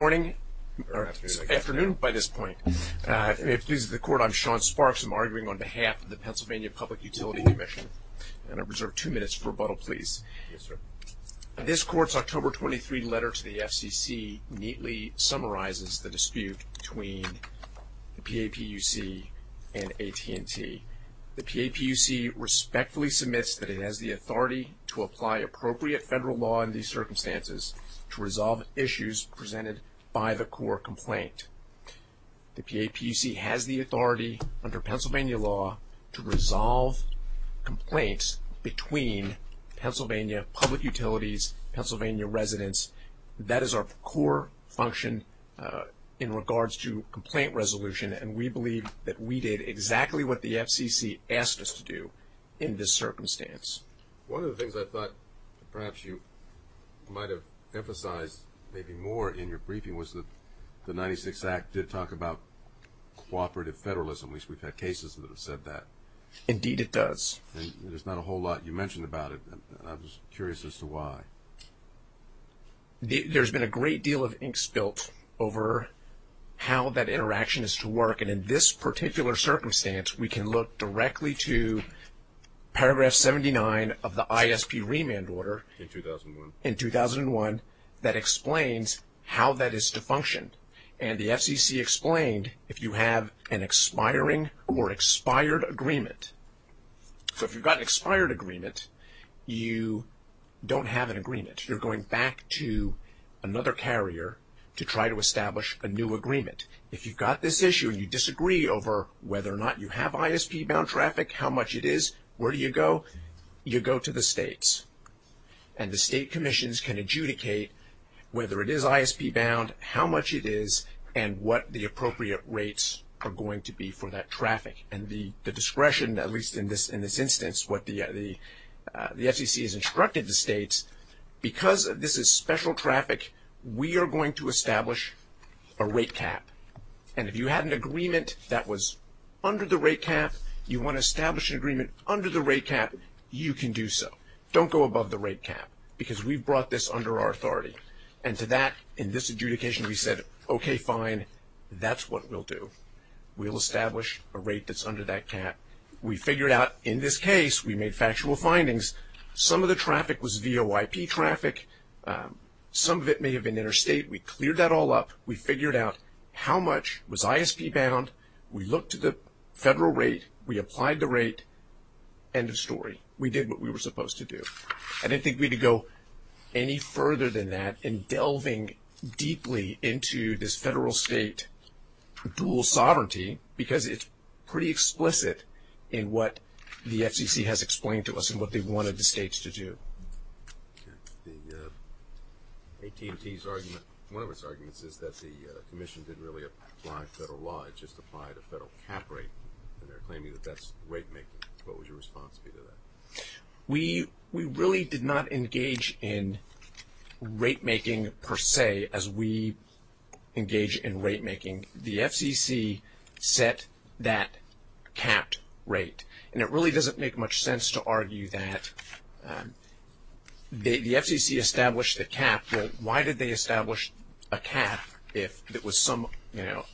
Good morning, or afternoon by this point. If it pleases the Court, I'm Sean Sparks. I'm arguing on behalf of the Pennsylvania Public Utility Commission. I'm going to reserve two minutes for rebuttal, please. Yes, sir. This Court's October 23 letter to the FCC neatly summarizes the dispute between the PAPUC and AT&T. The PAPUC respectfully submits that it has the authority to apply appropriate federal law in these circumstances to resolve issues presented by the core complaint. The PAPUC has the authority under Pennsylvania law to resolve complaints between Pennsylvania public utilities, Pennsylvania residents. That is our core function in regards to complaint resolution, and we believe that we did exactly what the FCC asked us to do in this circumstance. One of the things I thought perhaps you might have emphasized maybe more in your briefing was that the 96th Act did talk about cooperative federalism. At least, we've had cases that have said that. Indeed, it does. There's not a whole lot you mentioned about it, and I was curious as to why. There's been a great deal of ink spilled over how that interaction is to work, and in this particular circumstance, we can look directly to paragraph 79 of the ISP remand order. In 2001. In 2001, that explains how that is to function, and the FCC explained if you have an expiring or expired agreement. If you've got an expired agreement, you don't have an agreement. You're going back to another carrier to try to establish a new agreement. If you've got this issue and you disagree over whether or not you have ISP-bound traffic, how much it is, where do you go? You go to the states, and the state commissions can adjudicate whether it is ISP-bound, how much it is, and what the appropriate rates are going to be for that traffic. And the discretion, at least in this instance, what the FCC has instructed the states, because this is special traffic, we are going to establish a rate cap. And if you had an agreement that was under the rate cap, you want to establish an agreement under the rate cap, you can do so. Don't go above the rate cap, because we've brought this under our authority. And to that, in this adjudication, we said, okay, fine, that's what we'll do. We'll establish a rate that's under that cap. We figured out, in this case, we made factual findings. Some of the traffic was VOIP traffic. Some of it may have been interstate. We cleared that all up. We figured out how much was ISP-bound. We looked at the federal rate. We applied the rate. End of story. We did what we were supposed to do. I didn't think we had to go any further than that in delving deeply into this federal-state dual sovereignty, because it's pretty explicit in what the FCC has explained to us and what they wanted the states to do. The AT&T's argument, one of its arguments, is that the commission didn't really apply federal law. It just applied a federal cap rate, and they're claiming that that's rate making. What was your response to that? We really did not engage in rate making, per se, as we engage in rate making. The FCC set that capped rate. And it really doesn't make much sense to argue that the FCC established the cap. Well, why did they establish a cap if it was some, you know,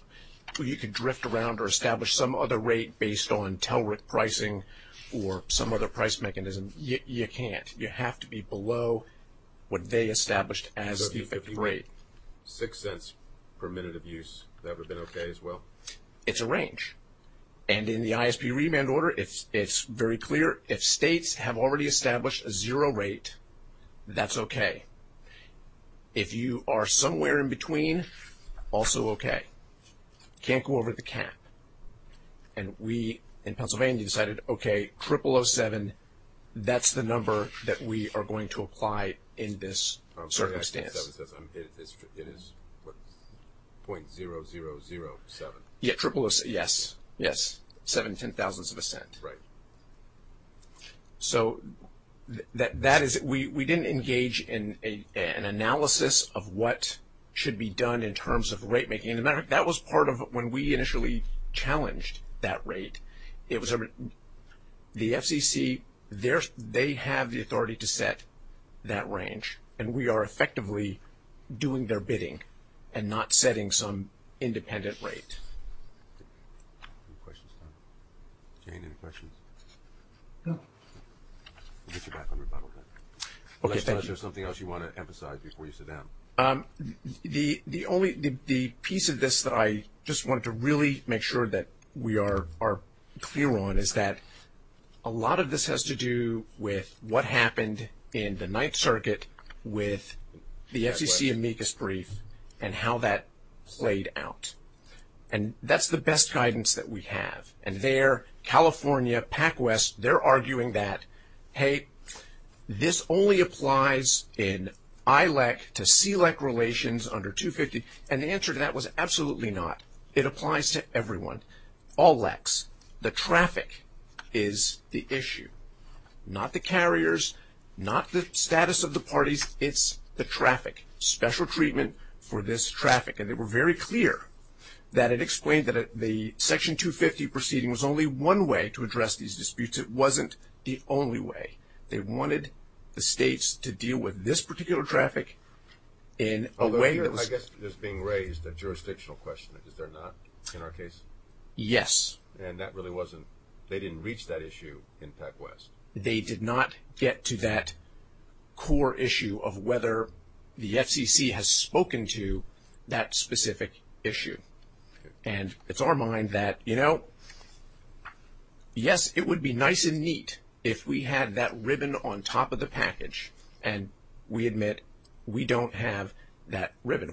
you could drift around or establish some other rate based on TELRIC pricing or some other price mechanism? You can't. You have to be below what they established as the effective rate. Six cents per minute of use. That would have been okay as well? It's a range. And in the ISP remand order, it's very clear. If states have already established a zero rate, that's okay. If you are somewhere in between, also okay. Can't go over the cap. And we, in Pennsylvania, decided, okay, triple 07, that's the number that we are going to apply in this circumstance. It is 0.0007. Yeah, triple 07. Yes, yes. Seven ten-thousandths of a cent. Right. So we didn't engage in an analysis of what should be done in terms of rate making. That was part of when we initially challenged that rate. The FCC, they have the authority to set that range. And we are effectively doing their bidding and not setting some independent rate. Any questions, Tom? Jane, any questions? No. We'll get you back on rebuttal then. Unless there's something else you want to emphasize before you sit down. The piece of this that I just wanted to really make sure that we are clear on is that a lot of this has to do with what happened in the Ninth Circuit with the FCC amicus brief and how that played out. And that's the best guidance that we have. And there, California, PacWest, they're arguing that, hey, this only applies in ILEC to CLEC relations under 250. And the answer to that was absolutely not. It applies to everyone, all LECs. The traffic is the issue, not the carriers, not the status of the parties. It's the traffic, special treatment for this traffic. And they were very clear that it explained that the Section 250 proceeding was only one way to address these disputes. It wasn't the only way. They wanted the states to deal with this particular traffic in a way that was ‑‑ I guess there's being raised a jurisdictional question. Is there not in our case? Yes. And that really wasn't ‑‑ they didn't reach that issue in PacWest? They did not get to that core issue of whether the FCC has spoken to that specific issue. And it's our mind that, you know, yes, it would be nice and neat if we had that ribbon on top of the package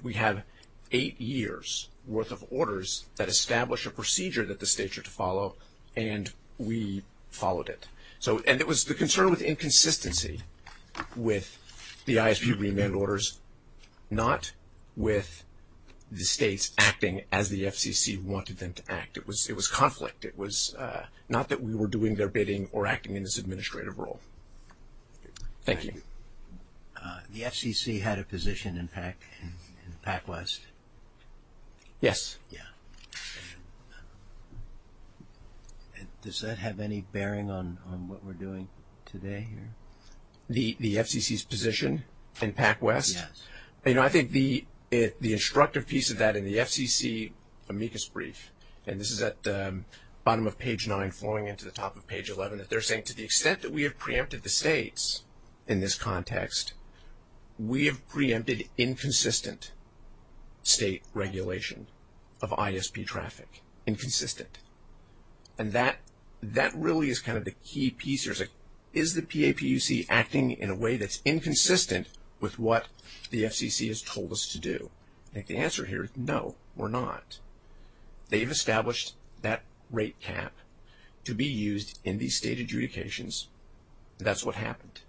We have eight years' worth of orders that establish a procedure that the states are to follow, and we followed it. And it was the concern with inconsistency with the ISP remand orders, not with the states acting as the FCC wanted them to act. It was conflict. It was not that we were doing their bidding or acting in this administrative role. Thank you. The FCC had a position in PacWest? Yes. Yeah. Does that have any bearing on what we're doing today here? The FCC's position in PacWest? Yes. You know, I think the instructive piece of that in the FCC amicus brief, and this is at the bottom of page 9 flowing into the top of page 11, that they're saying to the extent that we have preempted the states in this context, we have preempted inconsistent state regulation of ISP traffic. Inconsistent. And that really is kind of the key piece. Is the PAPUC acting in a way that's inconsistent with what the FCC has told us to do? I think the answer here is no, we're not. They've established that rate cap to be used in these state adjudications. That's what happened.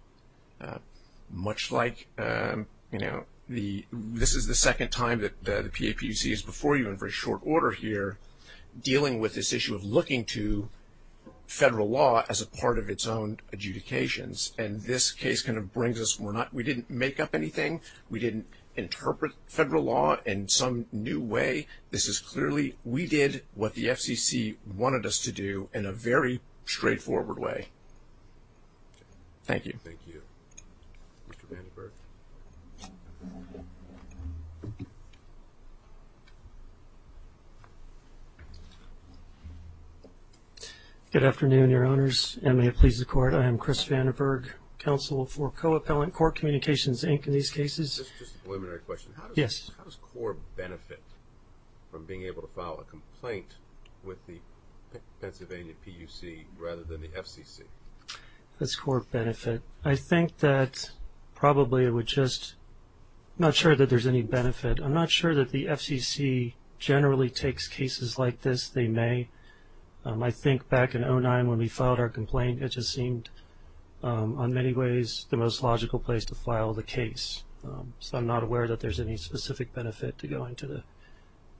Much like, you know, this is the second time that the PAPUC is before you in very short order here, dealing with this issue of looking to federal law as a part of its own adjudications. And this case kind of brings us, we didn't make up anything. We didn't interpret federal law in some new way. This is clearly we did what the FCC wanted us to do in a very straightforward way. Thank you. Mr. Vandenberg. Good afternoon, Your Honors, and may it please the Court. I am Chris Vandenberg, Counsel for Co-Appellant Court Communications, Inc., in these cases. Just a preliminary question. Yes. How does court benefit from being able to file a complaint with the Pennsylvania PUC rather than the FCC? How does court benefit? I think that probably it would just, I'm not sure that there's any benefit. I'm not sure that the FCC generally takes cases like this. They may. I think back in 2009 when we filed our complaint, it just seemed in many ways the most logical place to file the case. So I'm not aware that there's any specific benefit to going to the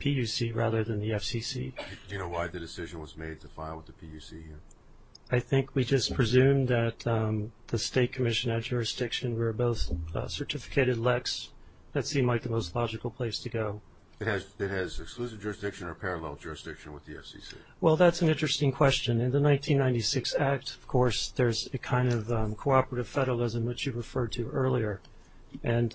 PUC rather than the FCC. Do you know why the decision was made to file with the PUC? I think we just presumed that the State Commission had jurisdiction. We were both certificated LECs. That seemed like the most logical place to go. It has exclusive jurisdiction or parallel jurisdiction with the FCC? Well, that's an interesting question. In the 1996 Act, of course, there's a kind of cooperative federalism, which you referred to earlier. And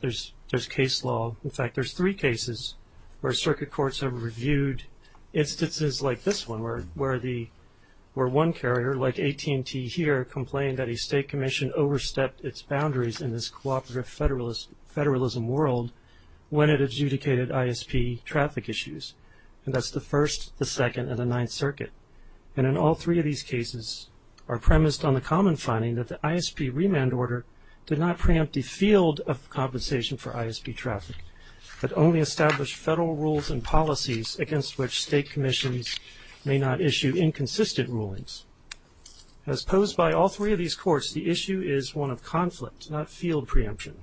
there's case law. In fact, there's three cases where circuit courts have reviewed instances like this one where one carrier, like AT&T here, complained that a State Commission overstepped its boundaries in this cooperative federalism world when it adjudicated ISP traffic issues. And that's the First, the Second, and the Ninth Circuit. And in all three of these cases are premised on the common finding that the ISP remand order did not preempt the field of compensation for ISP traffic, but only established federal rules and policies against which State Commissions may not issue inconsistent rulings. As posed by all three of these courts, the issue is one of conflict, not field preemption.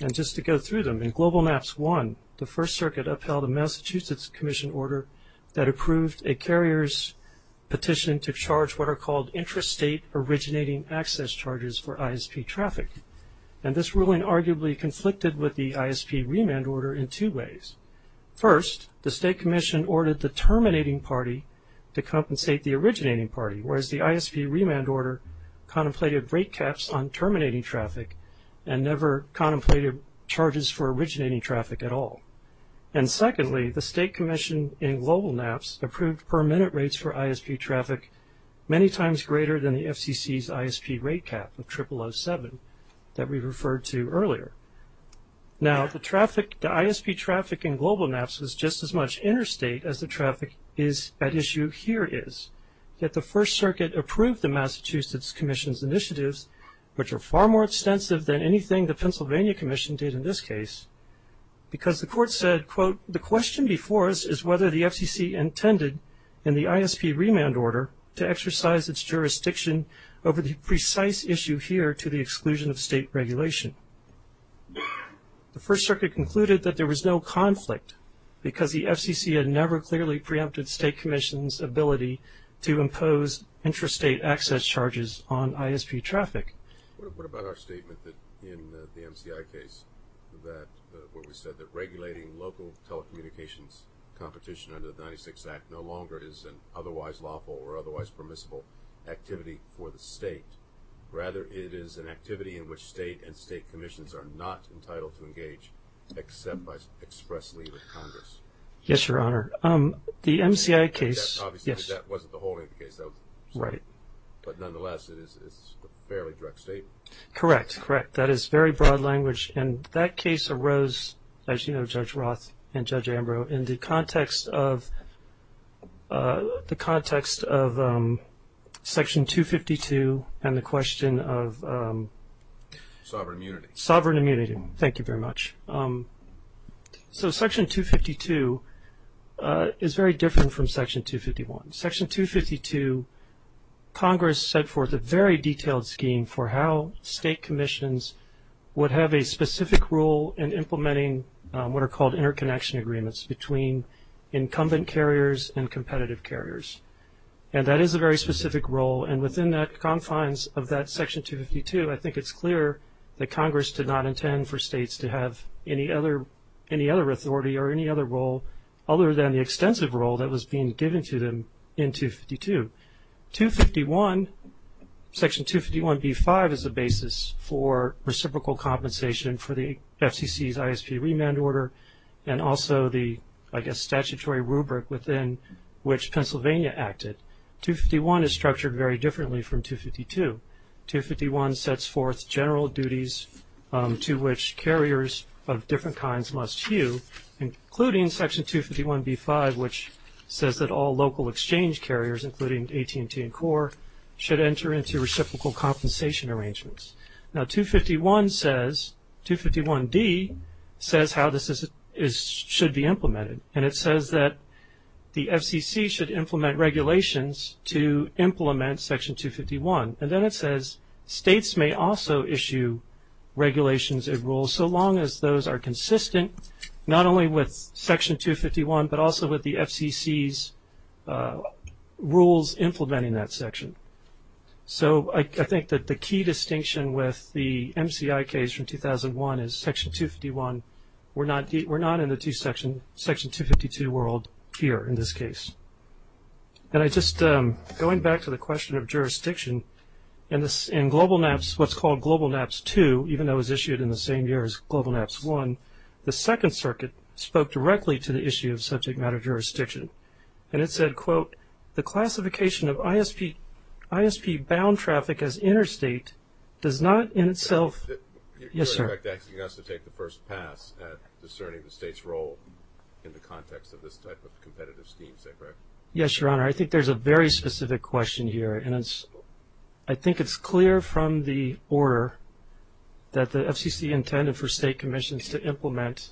And just to go through them, in GlobalMaps I, the First Circuit upheld a Massachusetts Commission order that approved a carrier's petition to charge what are called intrastate originating access charges for ISP traffic. And this ruling arguably conflicted with the ISP remand order in two ways. First, the State Commission ordered the terminating party to compensate the originating party, whereas the ISP remand order contemplated rate caps on terminating traffic and never contemplated charges for originating traffic at all. And secondly, the State Commission in GlobalMaps approved per minute rates for ISP traffic many times greater than the FCC's ISP rate cap of 0007 that we referred to earlier. Now, the ISP traffic in GlobalMaps was just as much interstate as the traffic at issue here is. Yet the First Circuit approved the Massachusetts Commission's initiatives, which are far more extensive than anything the Pennsylvania Commission did in this case, because the court said, quote, the question before us is whether the FCC intended in the ISP remand order to exercise its jurisdiction over the precise issue here to the exclusion of state regulation. The First Circuit concluded that there was no conflict because the FCC had never clearly preempted State Commission's ability to impose intrastate access charges on ISP traffic. What about our statement that in the MCI case, that what we said that regulating local telecommunications competition under the 96 Act no longer is an otherwise lawful or otherwise permissible activity for the state. Rather, it is an activity in which state and state commissions are not entitled to engage except by express leave of Congress. Yes, Your Honor. The MCI case, yes. Obviously, that wasn't the whole of the case. Right. But nonetheless, it is a fairly direct statement. Correct. Correct. That is very broad language. And that case arose, as you know, Judge Roth and Judge Ambrose, in the context of Section 252 and the question of… Sovereign immunity. Sovereign immunity. Thank you very much. So Section 252 is very different from Section 251. Section 252, Congress set forth a very detailed scheme for how state commissions would have a specific role in implementing what are called interconnection agreements between incumbent carriers and competitive carriers. And that is a very specific role. And within the confines of that Section 252, I think it's clear that Congress did not intend for states to have any other authority or any other role other than the extensive role that was being given to them in 252. Section 251b-5 is the basis for reciprocal compensation for the FCC's ISP remand order and also the, I guess, statutory rubric within which Pennsylvania acted. 251 is structured very differently from 252. 251 sets forth general duties to which carriers of different kinds must hew, including Section 251b-5, which says that all local exchange carriers, including AT&T and CORE, should enter into reciprocal compensation arrangements. Now 251 says, 251d says how this should be implemented. And it says that the FCC should implement regulations to implement Section 251. And then it says states may also issue regulations and rules, so long as those are consistent not only with Section 251 but also with the FCC's rules implementing that section. So I think that the key distinction with the MCI case from 2001 is Section 251, we're not in the Section 252 world here in this case. And I just, going back to the question of jurisdiction, in Global NAPCS, what's called Global NAPCS 2, even though it was issued in the same year as Global NAPCS 1, the Second Circuit spoke directly to the issue of subject matter jurisdiction. And it said, quote, the classification of ISP bound traffic as interstate does not in itself. Yes, sir. You're, in fact, asking us to take the first pass at discerning the state's role in the context of this type of competitive scheme, say, correct? Yes, Your Honor. I think there's a very specific question here, and I think it's clear from the order that the FCC intended for state commissions to implement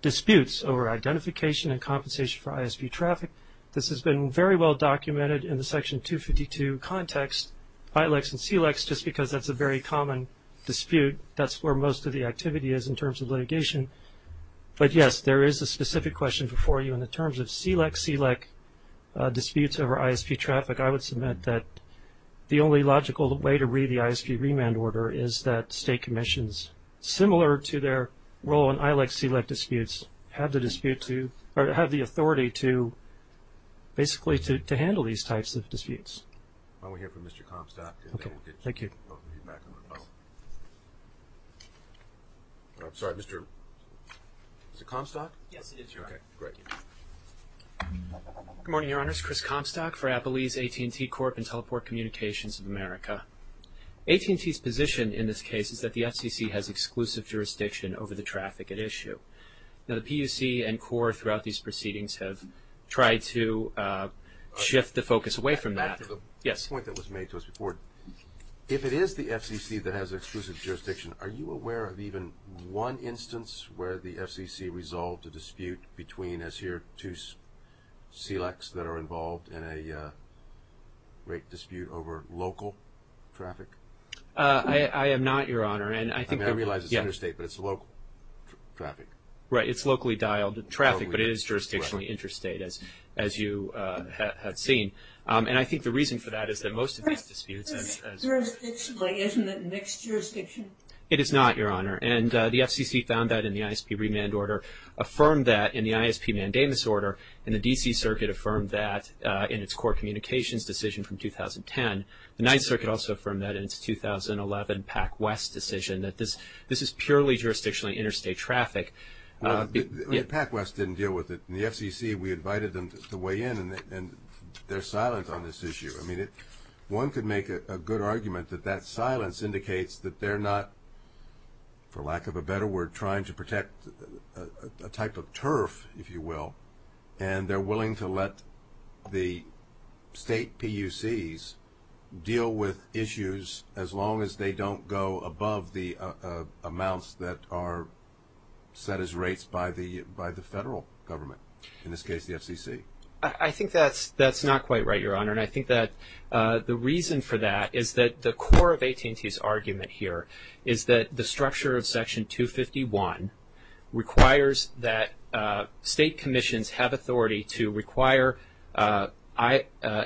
disputes over identification and compensation for ISP traffic. This has been very well documented in the Section 252 context, ILEX and SELEX, just because that's a very common dispute. That's where most of the activity is in terms of litigation. But, yes, there is a specific question before you. In the terms of SELEX, SELEC disputes over ISP traffic, I would submit that the only logical way to read the ISP remand order is that state commissions, similar to their role in ILEX, SELEC disputes, have the dispute to or have the authority to basically to handle these types of disputes. Why don't we hear from Mr. Comstock, and then we'll get you back on the phone. I'm sorry, Mr. Comstock? Yes, he is, Your Honor. Okay, great. Good morning, Your Honors. Chris Comstock for Appalese AT&T Corp. and Teleport Communications of America. AT&T's position in this case is that the FCC has exclusive jurisdiction over the traffic at issue. Now, the PUC and CORE throughout these proceedings have tried to shift the focus away from that. Back to the point that was made to us before. If it is the FCC that has exclusive jurisdiction, are you aware of even one instance where the FCC resolved a dispute between, as here, two SELEX that are involved in a rate dispute over local traffic? I am not, Your Honor. I mean, I realize it's interstate, but it's local traffic. Right. It's locally dialed traffic, but it is jurisdictionally interstate, as you have seen. And I think the reason for that is that most of these disputes. Jurisdictionally, isn't it mixed jurisdiction? It is not, Your Honor. And the FCC found that in the ISP remand order, affirmed that in the ISP mandamus order, and the D.C. Circuit affirmed that in its CORE communications decision from 2010. The Ninth Circuit also affirmed that in its 2011 PAC-West decision, that this is purely jurisdictionally interstate traffic. PAC-West didn't deal with it. In the FCC, we invited them to weigh in, and they're silent on this issue. I mean, one could make a good argument that that silence indicates that they're not, for lack of a better word, trying to protect a type of turf, if you will, and they're willing to let the state PUCs deal with issues, as long as they don't go above the amounts that are set as rates by the federal government. In this case, the FCC. I think that's not quite right, Your Honor, and I think that the reason for that is that the core of AT&T's argument here is that the structure of Section 251 requires that state commissions have authority to require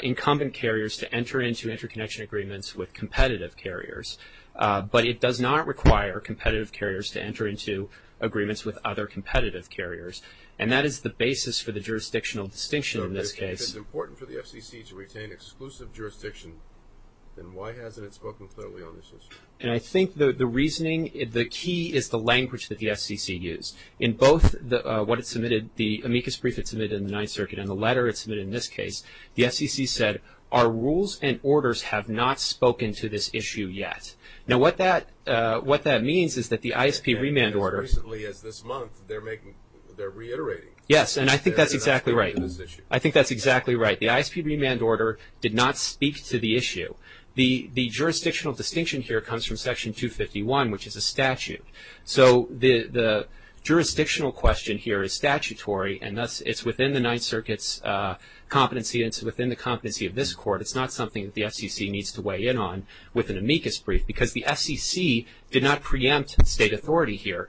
incumbent carriers to enter into interconnection agreements with competitive carriers, but it does not require competitive carriers to enter into agreements with other competitive carriers, and that is the basis for the jurisdictional distinction in this case. So if it's important for the FCC to retain exclusive jurisdiction, then why hasn't it spoken clearly on this issue? And I think the reasoning, the key is the language that the FCC used. In both what it submitted, the amicus brief it submitted in the Ninth Circuit and the letter it submitted in this case, the FCC said, our rules and orders have not spoken to this issue yet. Now, what that means is that the ISP remand order. As recently as this month, they're reiterating. Yes, and I think that's exactly right. They're not speaking to this issue. I think that's exactly right. The ISP remand order did not speak to the issue. The jurisdictional distinction here comes from Section 251, which is a statute. So the jurisdictional question here is statutory, and thus it's within the Ninth Circuit's competency, and it's within the competency of this Court. It's not something that the FCC needs to weigh in on with an amicus brief because the FCC did not preempt state authority here.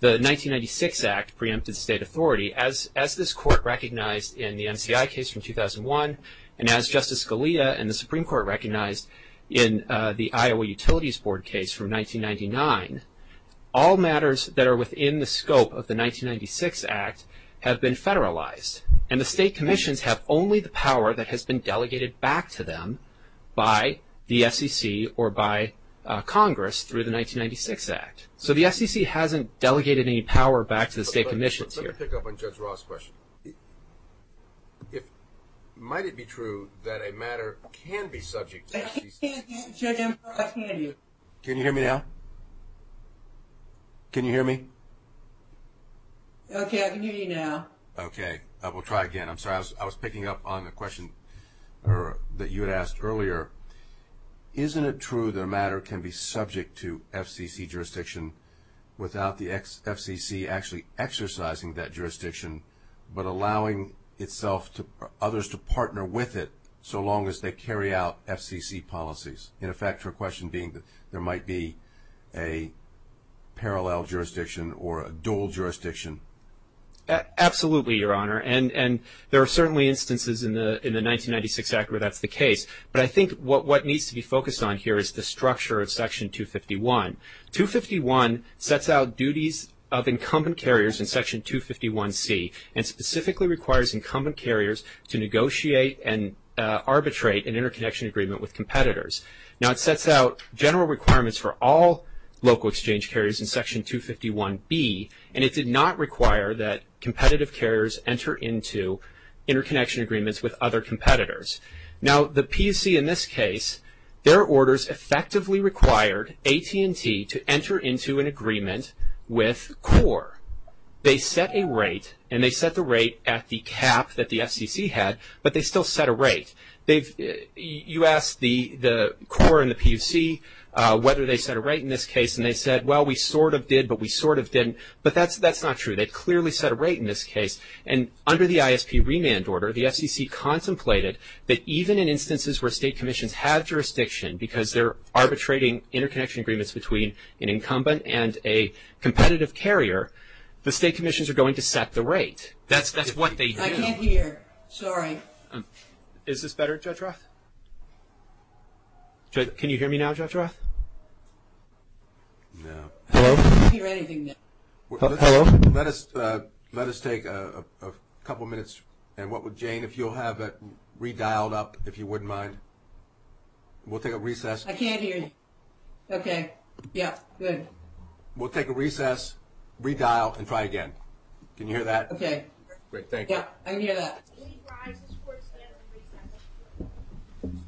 The 1996 Act preempted state authority. As this Court recognized in the MCI case from 2001, and as Justice Scalia and the Supreme Court recognized in the Iowa Utilities Board case from 1999, all matters that are within the scope of the 1996 Act have been federalized, and the state commissions have only the power that has been delegated back to them by the FCC or by Congress through the 1996 Act. So the FCC hasn't delegated any power back to the state commissions here. Let me pick up on Judge Ross' question. Might it be true that a matter can be subject to FCC jurisdiction? Judge Ember, I can't hear you. Can you hear me now? Can you hear me? Okay, I can hear you now. Okay, we'll try again. I'm sorry, I was picking up on the question that you had asked earlier. Isn't it true that a matter can be subject to FCC jurisdiction without the FCC actually exercising that jurisdiction, but allowing others to partner with it so long as they carry out FCC policies? In effect, your question being that there might be a parallel jurisdiction or a dual jurisdiction? Absolutely, Your Honor, and there are certainly instances in the 1996 Act where that's the case. But I think what needs to be focused on here is the structure of Section 251. 251 sets out duties of incumbent carriers in Section 251C and specifically requires incumbent carriers to negotiate and arbitrate an interconnection agreement with competitors. Now it sets out general requirements for all local exchange carriers in Section 251B, and it did not require that competitive carriers enter into interconnection agreements with other competitors. Now the PUC in this case, their orders effectively required AT&T to enter into an agreement with CORE. They set a rate, and they set the rate at the cap that the FCC had, but they still set a rate. You asked the CORE and the PUC whether they set a rate in this case, and they said, well, we sort of did, but we sort of didn't. But that's not true. They clearly set a rate in this case. And under the ISP remand order, the FCC contemplated that even in instances where state commissions have jurisdiction because they're arbitrating interconnection agreements between an incumbent and a competitive carrier, the state commissions are going to set the rate. That's what they do. I can't hear. Sorry. Is this better, Judge Roth? Can you hear me now, Judge Roth? No. Hello? I can't hear anything now. Hello? Let us take a couple minutes, and Jane, if you'll have it redialed up, if you wouldn't mind. We'll take a recess. I can't hear you. Okay. Yeah. Good. We'll take a recess, redial, and try again. Can you hear that? Okay. Great. Thank you. Yeah, I can hear that. Please rise. This court is adjourned. Thank you.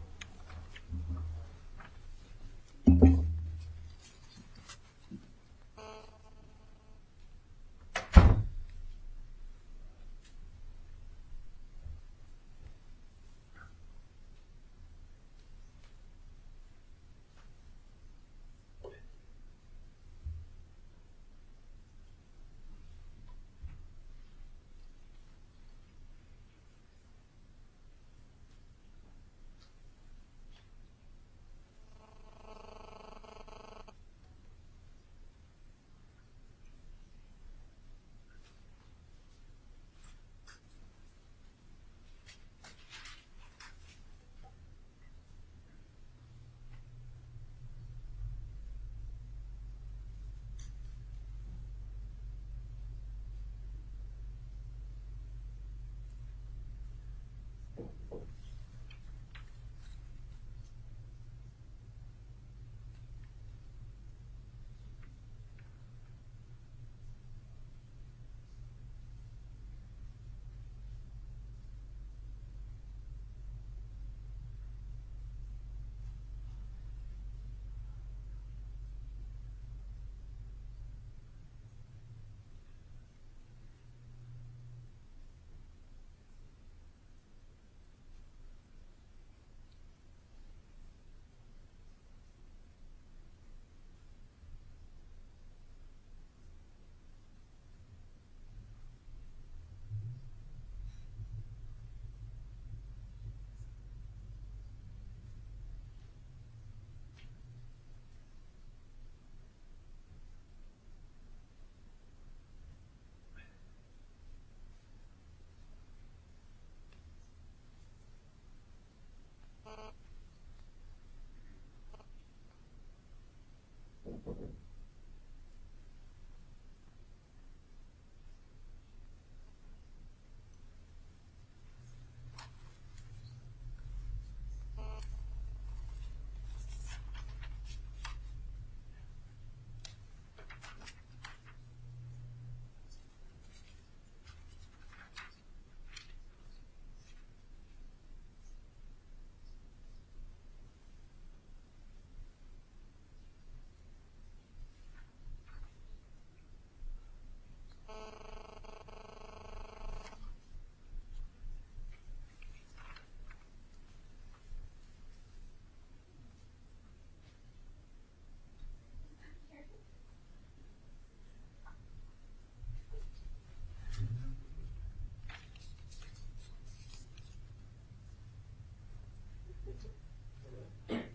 Thank you.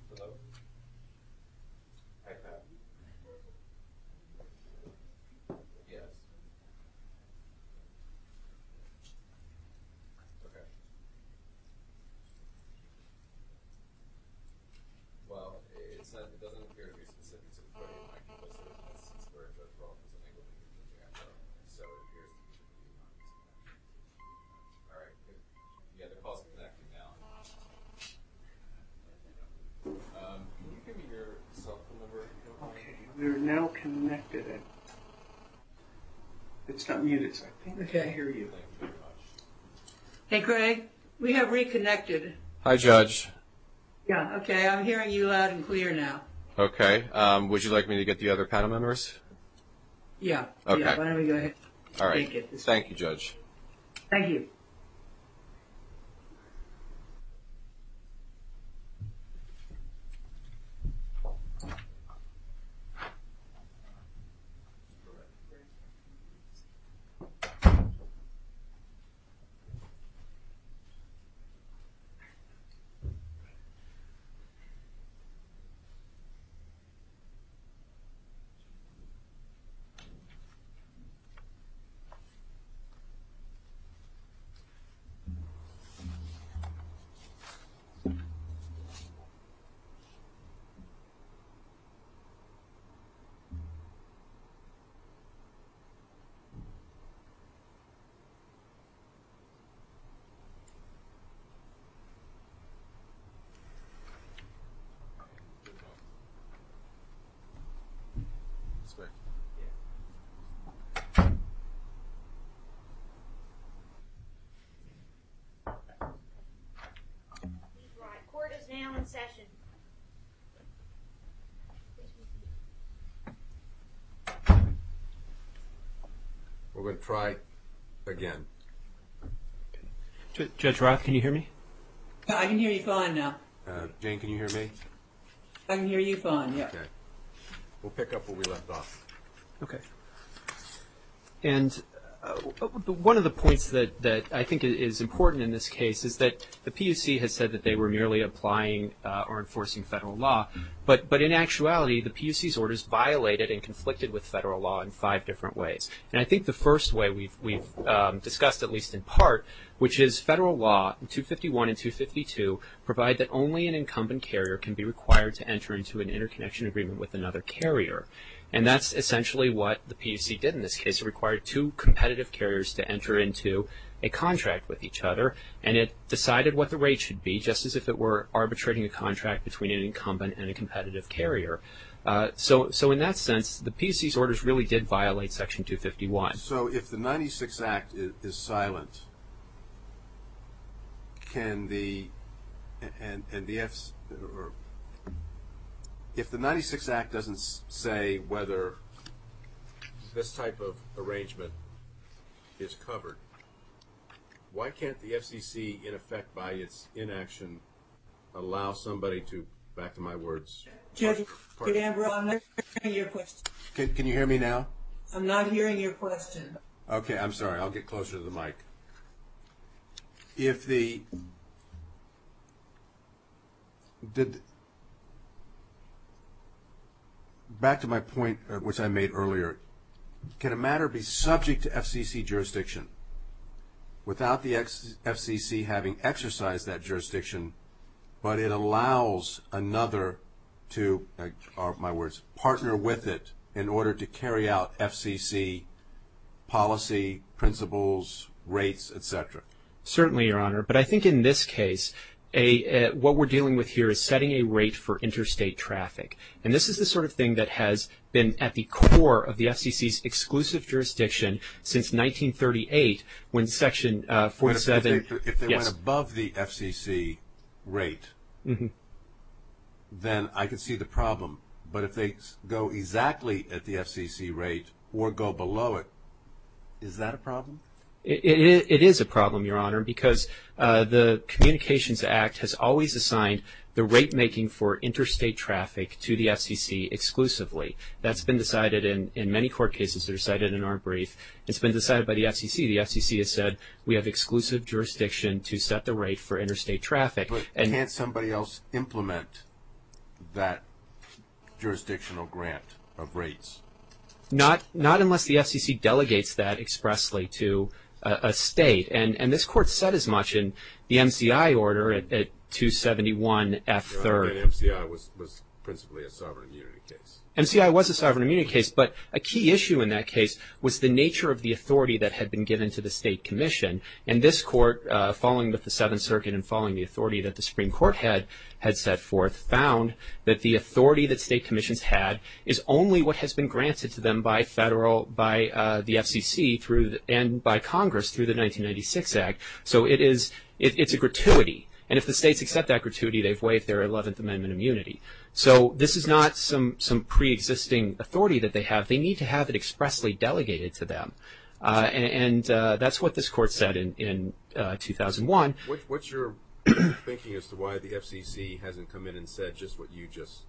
Hello? Hi, Pat. Yes. Okay. Well, it said it doesn't appear to be specific to the portal. I can list it as C-squared, but it's wrong. There's an angle between it and the arrow. All right. It is C-squared. Okay. All right. Can you give me your cell phone number? Okay. We're now connected. It's not muted, so I can't hear you. Thank you very much. Hey, Craig. We have reconnected. Hi, Judge. Yeah. Okay. I'm hearing you loud and clear now. Okay. Would you like me to get the other panel members? Yeah. Okay. Yeah. Why don't we go ahead? All right. Thank you, Judge. Thank you. All right. I think it's fine. Okay. Good. All right. Okay. All right. Good. Good. Good. Good. Good. Good. I've heard the clap sound. Good. Good. Okay. Okay. We're going to try it again. Judge Roth, can you hear me? I can hear you fine now. Jane, can you hear me? I can hear you fine, yeah. Okay. We'll pick up where we left off. Okay. And one of the points that I think is important in this case is that the PUC has said that they were merely applying or enforcing federal law, but in actuality, the PUC's orders violated and conflicted with federal law in five different ways. And I think the first way we've discussed, at least in part, which is federal law, 251 and 252, provide that only an incumbent carrier can be required to enter into an interconnection agreement with another carrier. And that's essentially what the PUC did in this case. It required two competitive carriers to enter into a contract with each other, and it decided what the rate should be, just as if it were arbitrating a contract between an incumbent and a competitive carrier. So in that sense, the PUC's orders really did violate Section 251. So if the 96 Act is silent, can the – and the – if the 96 Act doesn't say whether this type of arrangement is covered, why can't the FCC, in effect, by its inaction, allow somebody to – back to my words – Judge, Judge Ambrose, I'm not hearing your question. Can you hear me now? I'm not hearing your question. Okay. I'm sorry. I'll get closer to the mic. If the – did – back to my point, which I made earlier, can a matter be subject to FCC jurisdiction without the FCC having exercised that jurisdiction, but it allows another to partner with it in order to carry out FCC policy, principles, rates, et cetera? Certainly, Your Honor. But I think in this case, what we're dealing with here is setting a rate for interstate traffic. And this is the sort of thing that has been at the core of the FCC's exclusive jurisdiction since 1938, when Section 47 – Then I can see the problem. But if they go exactly at the FCC rate or go below it, is that a problem? It is a problem, Your Honor, because the Communications Act has always assigned the rate making for interstate traffic to the FCC exclusively. That's been decided in many court cases that are cited in our brief. It's been decided by the FCC. The FCC has said we have exclusive jurisdiction to set the rate for interstate traffic. But can't somebody else implement that jurisdictional grant of rates? Not unless the FCC delegates that expressly to a state. And this Court said as much in the MCI order at 271F3. Your Honor, but MCI was principally a sovereign immunity case. MCI was a sovereign immunity case, but a key issue in that case was the nature of the authority that had been given to the State Commission. And this Court, following with the Seventh Circuit and following the authority that the Supreme Court had set forth, found that the authority that State Commissions had is only what has been granted to them by the FCC and by Congress through the 1996 Act. So it's a gratuity. And if the states accept that gratuity, they've waived their Eleventh Amendment immunity. So this is not some preexisting authority that they have. They need to have it expressly delegated to them. And that's what this Court said in 2001. What's your thinking as to why the FCC hasn't come in and said just what you just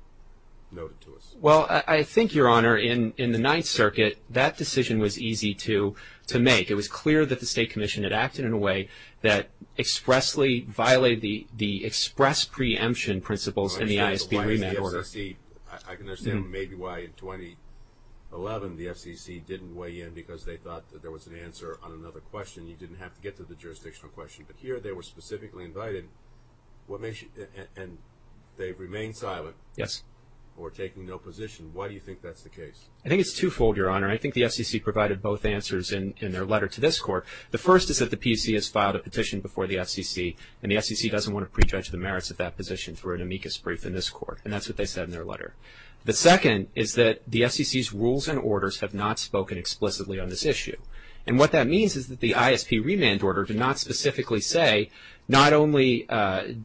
noted to us? Well, I think, Your Honor, in the Ninth Circuit, that decision was easy to make. It was clear that the State Commission had acted in a way that expressly violated the express preemption principles in the ISP remand order. I can understand maybe why in 2011 the FCC didn't weigh in because they thought that there was an answer on another question. You didn't have to get to the jurisdictional question. But here they were specifically invited, and they've remained silent. Yes. Or taken no position. Why do you think that's the case? I think it's twofold, Your Honor. I think the FCC provided both answers in their letter to this Court. The first is that the PUC has filed a petition before the FCC, and the FCC doesn't want to prejudge the merits of that position through an amicus brief in this Court. And that's what they said in their letter. The second is that the FCC's rules and orders have not spoken explicitly on this issue. And what that means is that the ISP remand order did not specifically say, not only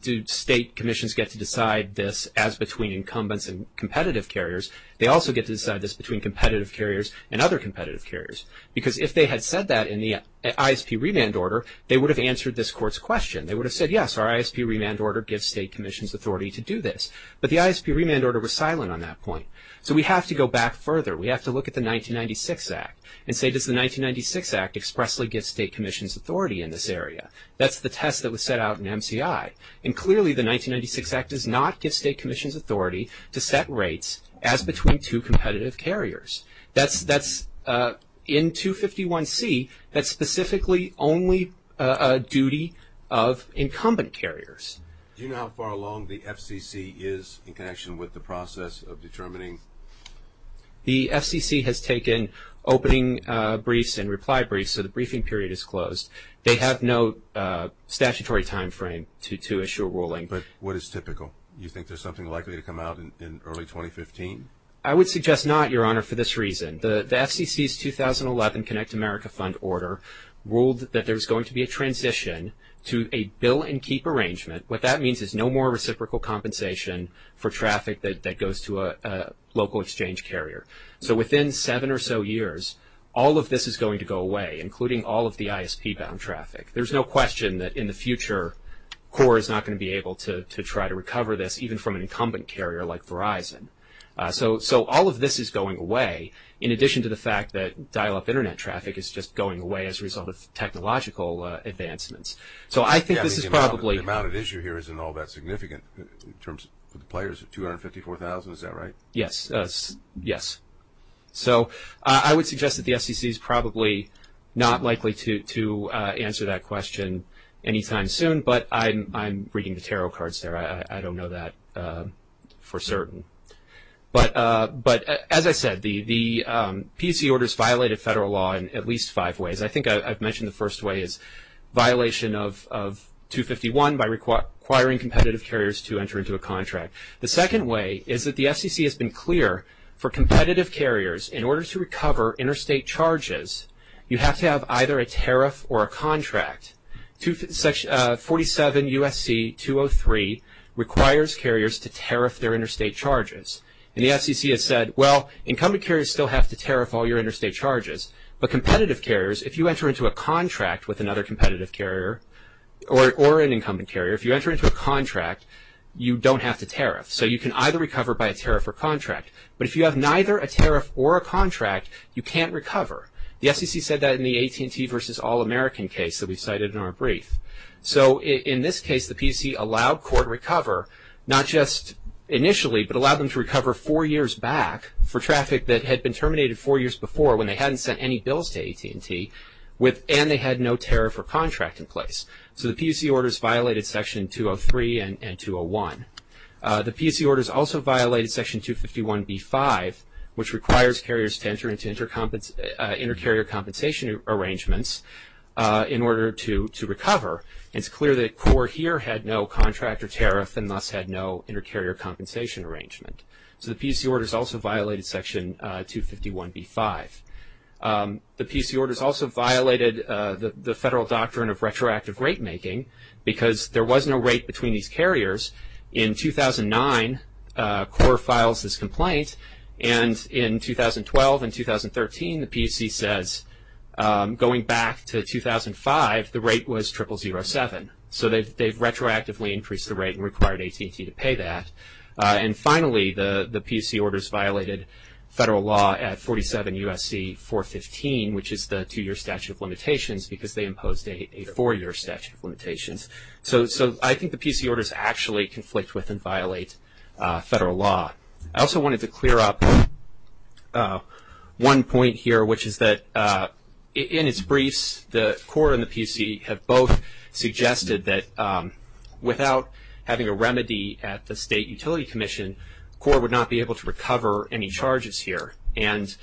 do State Commissions get to decide this as between incumbents and competitive carriers, they also get to decide this between competitive carriers and other competitive carriers. Because if they had said that in the ISP remand order, they would have answered this Court's question. They would have said, yes, our ISP remand order gives State Commissions authority to do this. But the ISP remand order was silent on that point. So we have to go back further. We have to look at the 1996 Act and say, does the 1996 Act expressly give State Commissions authority in this area? That's the test that was set out in MCI. And clearly the 1996 Act does not give State Commissions authority to set rates as between two competitive carriers. That's in 251C, that's specifically only a duty of incumbent carriers. Do you know how far along the FCC is in connection with the process of determining? The FCC has taken opening briefs and reply briefs, so the briefing period is closed. They have no statutory timeframe to issue a ruling. But what is typical? Do you think there's something likely to come out in early 2015? I would suggest not, Your Honor, for this reason. The FCC's 2011 Connect America Fund order ruled that there's going to be a transition to a bill-and-keep arrangement. What that means is no more reciprocal compensation for traffic that goes to a local exchange carrier. So within seven or so years, all of this is going to go away, including all of the ISP-bound traffic. There's no question that in the future, even from an incumbent carrier like Verizon. So all of this is going away, in addition to the fact that dial-up Internet traffic is just going away as a result of technological advancements. So I think this is probably- The amount at issue here isn't all that significant in terms of the players of 254,000, is that right? Yes, yes. So I would suggest that the FCC is probably not likely to answer that question anytime soon, but I'm reading the tarot cards there. I don't know that for certain. But as I said, the PC orders violate a federal law in at least five ways. I think I've mentioned the first way is violation of 251 by requiring competitive carriers to enter into a contract. The second way is that the FCC has been clear for competitive carriers, in order to recover interstate charges, 47 U.S.C. 203 requires carriers to tariff their interstate charges. And the FCC has said, well, incumbent carriers still have to tariff all your interstate charges, but competitive carriers, if you enter into a contract with another competitive carrier or an incumbent carrier, if you enter into a contract, you don't have to tariff. So you can either recover by a tariff or contract. But if you have neither a tariff or a contract, you can't recover. The FCC said that in the AT&T versus All-American case that we cited in our brief. So in this case, the PC allowed court recover, not just initially, but allowed them to recover four years back for traffic that had been terminated four years before, when they hadn't sent any bills to AT&T, and they had no tariff or contract in place. So the PC orders violated Section 203 and 201. The PC orders also violated Section 251b-5, which requires carriers to enter into inter-carrier compensation arrangements in order to recover. And it's clear that CORE here had no contract or tariff and thus had no inter-carrier compensation arrangement. So the PC orders also violated Section 251b-5. The PC orders also violated the federal doctrine of retroactive rate making, because there was no rate between these carriers. In 2009, CORE files this complaint. And in 2012 and 2013, the PC says going back to 2005, the rate was 0007. So they've retroactively increased the rate and required AT&T to pay that. And finally, the PC orders violated federal law at 47 U.S.C. 415, which is the two-year statute of limitations, because they imposed a four-year statute of limitations. So I think the PC orders actually conflict with and violate federal law. I also wanted to clear up one point here, which is that in its briefs, the CORE and the PC have both suggested that without having a remedy at the State Utility Commission, CORE would not be able to recover any charges here. And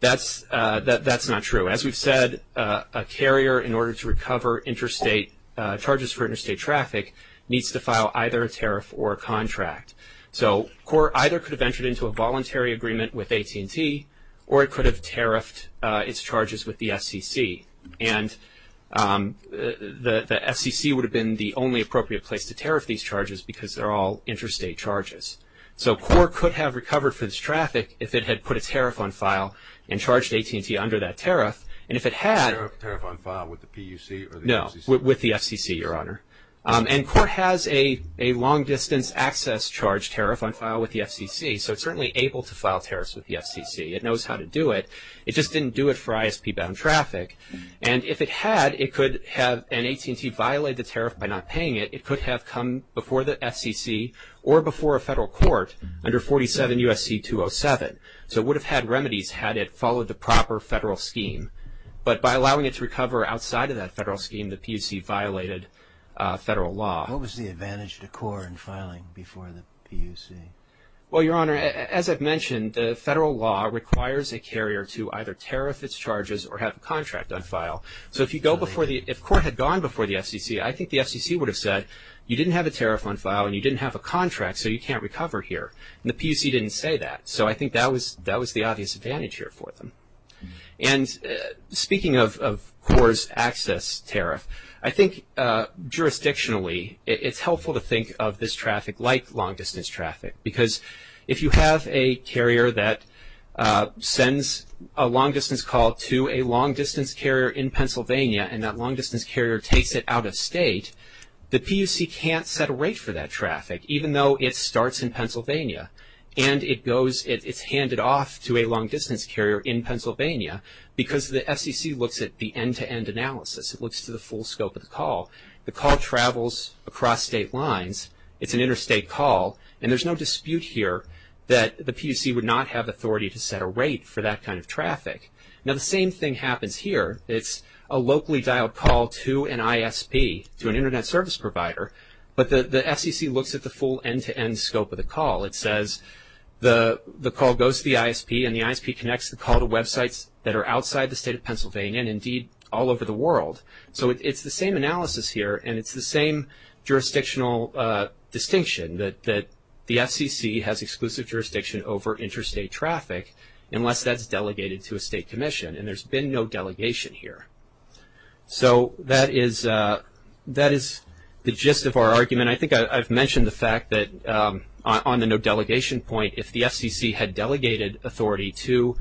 that's not true. As we've said, a carrier, in order to recover interstate charges for interstate traffic, needs to file either a tariff or a contract. So CORE either could have entered into a voluntary agreement with AT&T, or it could have tariffed its charges with the SEC. And the FCC would have been the only appropriate place to tariff these charges, because they're all interstate charges. So CORE could have recovered for its traffic if it had put a tariff on file and charged AT&T under that tariff. And if it had... A tariff on file with the PUC or the FCC? No, with the FCC, Your Honor. And CORE has a long-distance access charge tariff on file with the FCC, so it's certainly able to file tariffs with the FCC. It knows how to do it. It just didn't do it for ISP-bound traffic. And if it had, it could have... And AT&T violated the tariff by not paying it. It could have come before the FCC or before a federal court under 47 U.S.C. 207. So it would have had remedies had it followed the proper federal scheme. But by allowing it to recover outside of that federal scheme, the PUC violated federal law. What was the advantage to CORE in filing before the PUC? Well, Your Honor, as I've mentioned, the federal law requires a carrier to either tariff its charges or have a contract on file. So if you go before the... If CORE had gone before the FCC, I think the FCC would have said, you didn't have a tariff on file and you didn't have a contract, so you can't recover here. And the PUC didn't say that. So I think that was the obvious advantage here for them. And speaking of CORE's access tariff, I think jurisdictionally it's helpful to think of this traffic like long-distance traffic because if you have a carrier that sends a long-distance call to a long-distance carrier in Pennsylvania and that long-distance carrier takes it out of state, the PUC can't set a rate for that traffic even though it starts in Pennsylvania and it goes... It's handed off to a long-distance carrier in Pennsylvania because the FCC looks at the end-to-end analysis. It looks to the full scope of the call. The call travels across state lines. It's an interstate call. And there's no dispute here that the PUC would not have authority to set a rate for that kind of traffic. Now the same thing happens here. It's a locally dialed call to an ISP, to an internet service provider, but the FCC looks at the full end-to-end scope of the call. It says the call goes to the ISP and the ISP connects the call to websites that are outside the state of Pennsylvania and indeed all over the world. So it's the same analysis here and it's the same jurisdictional distinction that the FCC has exclusive jurisdiction over interstate traffic unless that's delegated to a state commission. And there's been no delegation here. So that is the gist of our argument. I think I've mentioned the fact that on the no delegation point, if the FCC had delegated authority to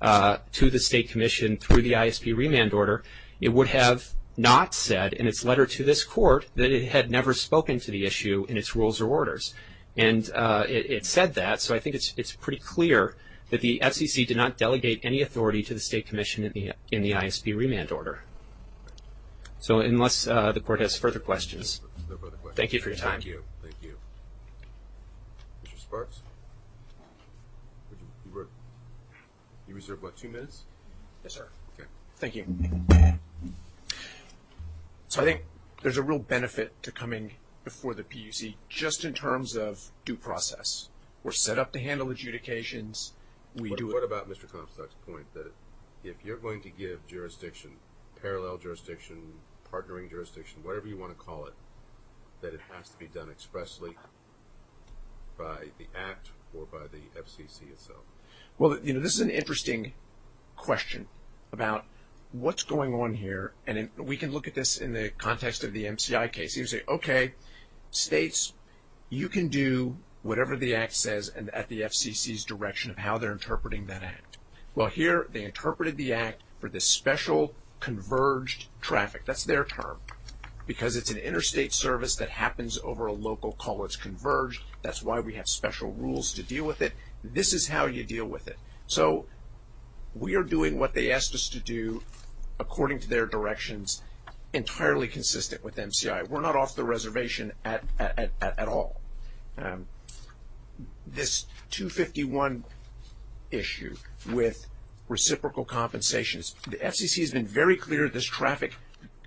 the state commission through the ISP remand order, it would have not said in its letter to this court that it had never spoken to the issue in its rules or orders. And it said that, so I think it's pretty clear that the FCC did not delegate any authority to the state commission in the ISP remand order. So unless the court has further questions. Thank you for your time. Thank you. Thank you. Mr. Sparks? You reserved what, two minutes? Yes, sir. Okay. Thank you. So I think there's a real benefit to coming before the PUC just in terms of due process. We're set up to handle adjudications. What about Mr. Compstock's point that if you're going to give jurisdiction, parallel jurisdiction, partnering jurisdiction, whatever you want to call it, that it has to be done expressly by the act or by the FCC itself? Well, you know, this is an interesting question about what's going on here, and we can look at this in the context of the MCI case. You can say, okay, states, you can do whatever the act says at the FCC's direction of how they're interpreting that act. Well, here they interpreted the act for this special converged traffic. That's their term because it's an interstate service that happens over a local call. It's converged. That's why we have special rules to deal with it. This is how you deal with it. So we are doing what they asked us to do according to their directions, entirely consistent with MCI. We're not off the reservation at all. This 251 issue with reciprocal compensations, the FCC has been very clear this traffic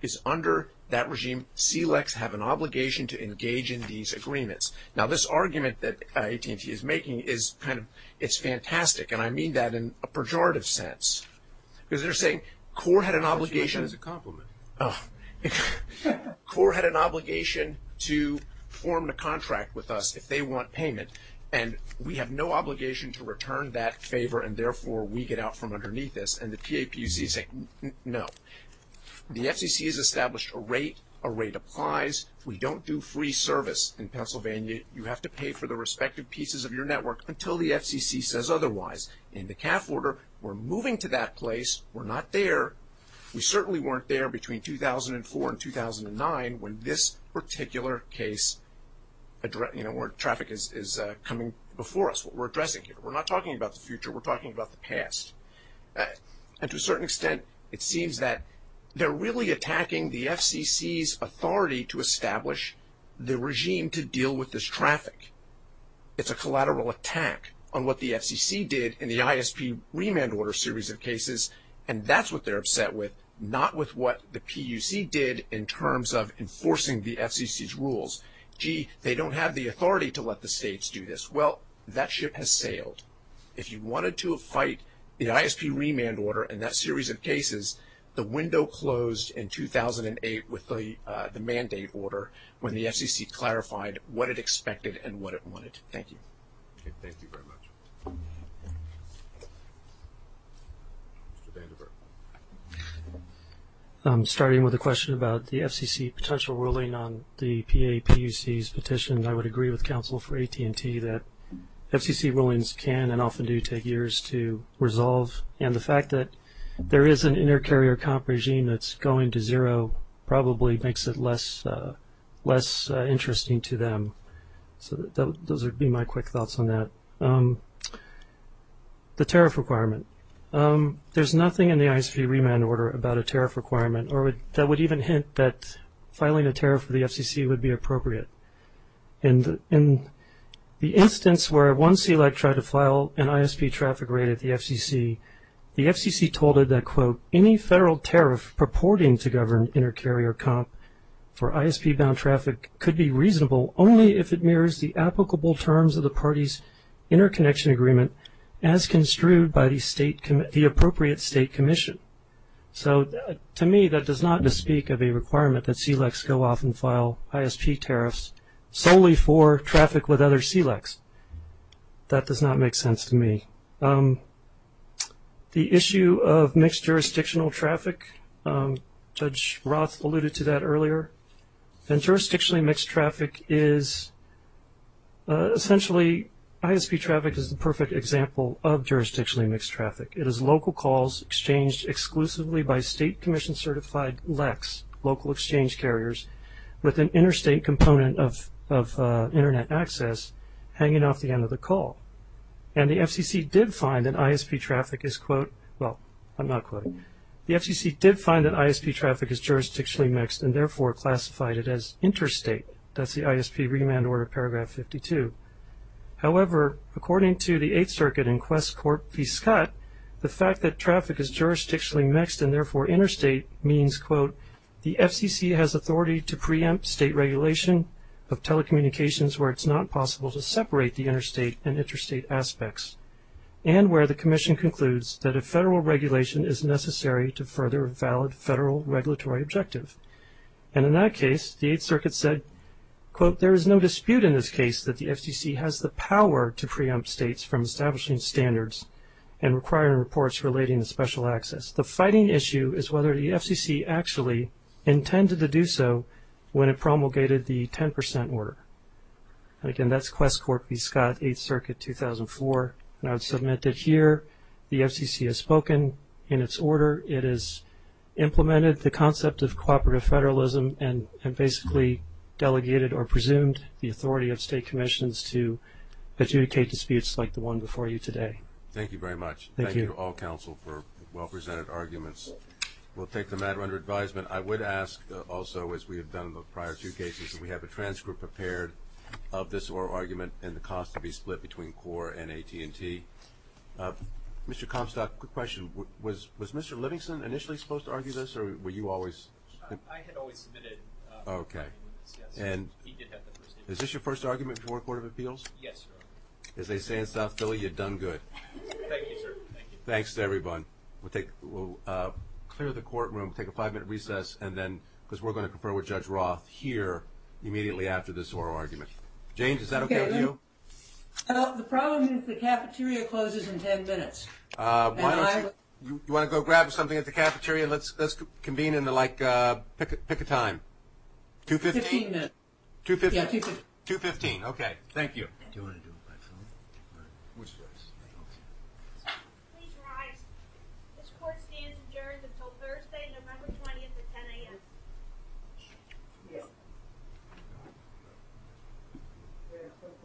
is under that regime. CLECs have an obligation to engage in these agreements. Now, this argument that AT&T is making is kind of fantastic, and I mean that in a pejorative sense because they're saying CORE had an obligation. That's a compliment. CORE had an obligation to form a contract with us if they want payment, and we have no obligation to return that favor, and therefore we get out from underneath this, and the PAPCs say no. The FCC has established a rate. A rate applies. We don't do free service in Pennsylvania. You have to pay for the respective pieces of your network until the FCC says otherwise. In the CAF order, we're moving to that place. We're not there. We certainly weren't there between 2004 and 2009 when this particular case, where traffic is coming before us, what we're addressing here. We're not talking about the future. We're talking about the past. And to a certain extent, it seems that they're really attacking the FCC's authority to establish the regime to deal with this traffic. It's a collateral attack on what the FCC did in the ISP remand order series of cases, and that's what they're upset with, not with what the PUC did in terms of enforcing the FCC's rules. Gee, they don't have the authority to let the states do this. Well, that ship has sailed. If you wanted to fight the ISP remand order in that series of cases, the window closed in 2008 with the mandate order when the FCC clarified what it expected and what it wanted. Thank you. Okay, thank you very much. Mr. Vandenberg. Starting with a question about the FCC potential ruling on the PAPUC's petition, I would agree with counsel for AT&T that FCC rulings can and often do take years to resolve, and the fact that there is an inter-carrier comp regime that's going to zero probably makes it less interesting to them. So those would be my quick thoughts on that. The tariff requirement. There's nothing in the ISP remand order about a tariff requirement that would even hint that filing a tariff with the FCC would be appropriate. In the instance where one CELAC tried to file an ISP traffic rate at the FCC, the FCC told it that, quote, any federal tariff purporting to govern inter-carrier comp for ISP-bound traffic could be reasonable only if it mirrors the applicable terms of the party's interconnection agreement as construed by the appropriate state commission. So to me, that does not speak of a requirement that CELACs go off and file ISP tariffs solely for traffic with other CELACs. That does not make sense to me. The issue of mixed jurisdictional traffic, Judge Roth alluded to that earlier, and jurisdictionally mixed traffic is essentially ISP traffic is the perfect example of jurisdictionally mixed traffic. It is local calls exchanged exclusively by state commission-certified LECs, local exchange carriers, with an interstate component of Internet access hanging off the end of the call. And the FCC did find that ISP traffic is, quote, well, I'm not quoting. The FCC did find that ISP traffic is jurisdictionally mixed and therefore classified it as interstate. That's the ISP remand order, paragraph 52. However, according to the Eighth Circuit in Quest Corp v. Scott, the fact that traffic is jurisdictionally mixed and therefore interstate means, quote, the FCC has authority to preempt state regulation of telecommunications where it's not possible to separate the interstate and interstate aspects, and where the commission concludes that a federal regulation is necessary to further a valid federal regulatory objective. And in that case, the Eighth Circuit said, quote, there is no dispute in this case that the FCC has the power to preempt states from establishing standards and requiring reports relating to special access. The fighting issue is whether the FCC actually intended to do so when it promulgated the 10 percent order. And again, that's Quest Corp v. Scott, Eighth Circuit, 2004. And I would submit that here the FCC has spoken in its order. It has implemented the concept of cooperative federalism and basically delegated or presumed the authority of state commissions to adjudicate disputes like the one before you today. Thank you very much. Thank you. Thank you to all counsel for well-presented arguments. We'll take the matter under advisement. I would ask also, as we have done in the prior two cases, that we have a transcript prepared of this oral argument and the cost to be split between CORE and AT&T. Mr. Comstock, quick question. Was Mr. Livingston initially supposed to argue this, or were you always? I had always submitted. Okay. He did have the first instance. Is this your first argument before a court of appeals? Yes, sir. As they say in South Philly, you've done good. Thank you, sir. Thank you. Thanks to everyone. We'll clear the courtroom, take a five-minute recess, because we're going to confer with Judge Roth here immediately after this oral argument. James, is that okay with you? The problem is the cafeteria closes in ten minutes. You want to go grab something at the cafeteria? Let's convene and, like, pick a time. Two-fifteen? Two-fifteen. Yeah, two-fifteen. Two-fifteen, okay. Thank you. Do you want to do it by phone? Which way? Please rise. This court stands adjourned until Thursday, November 20th at 10 a.m. Thank you.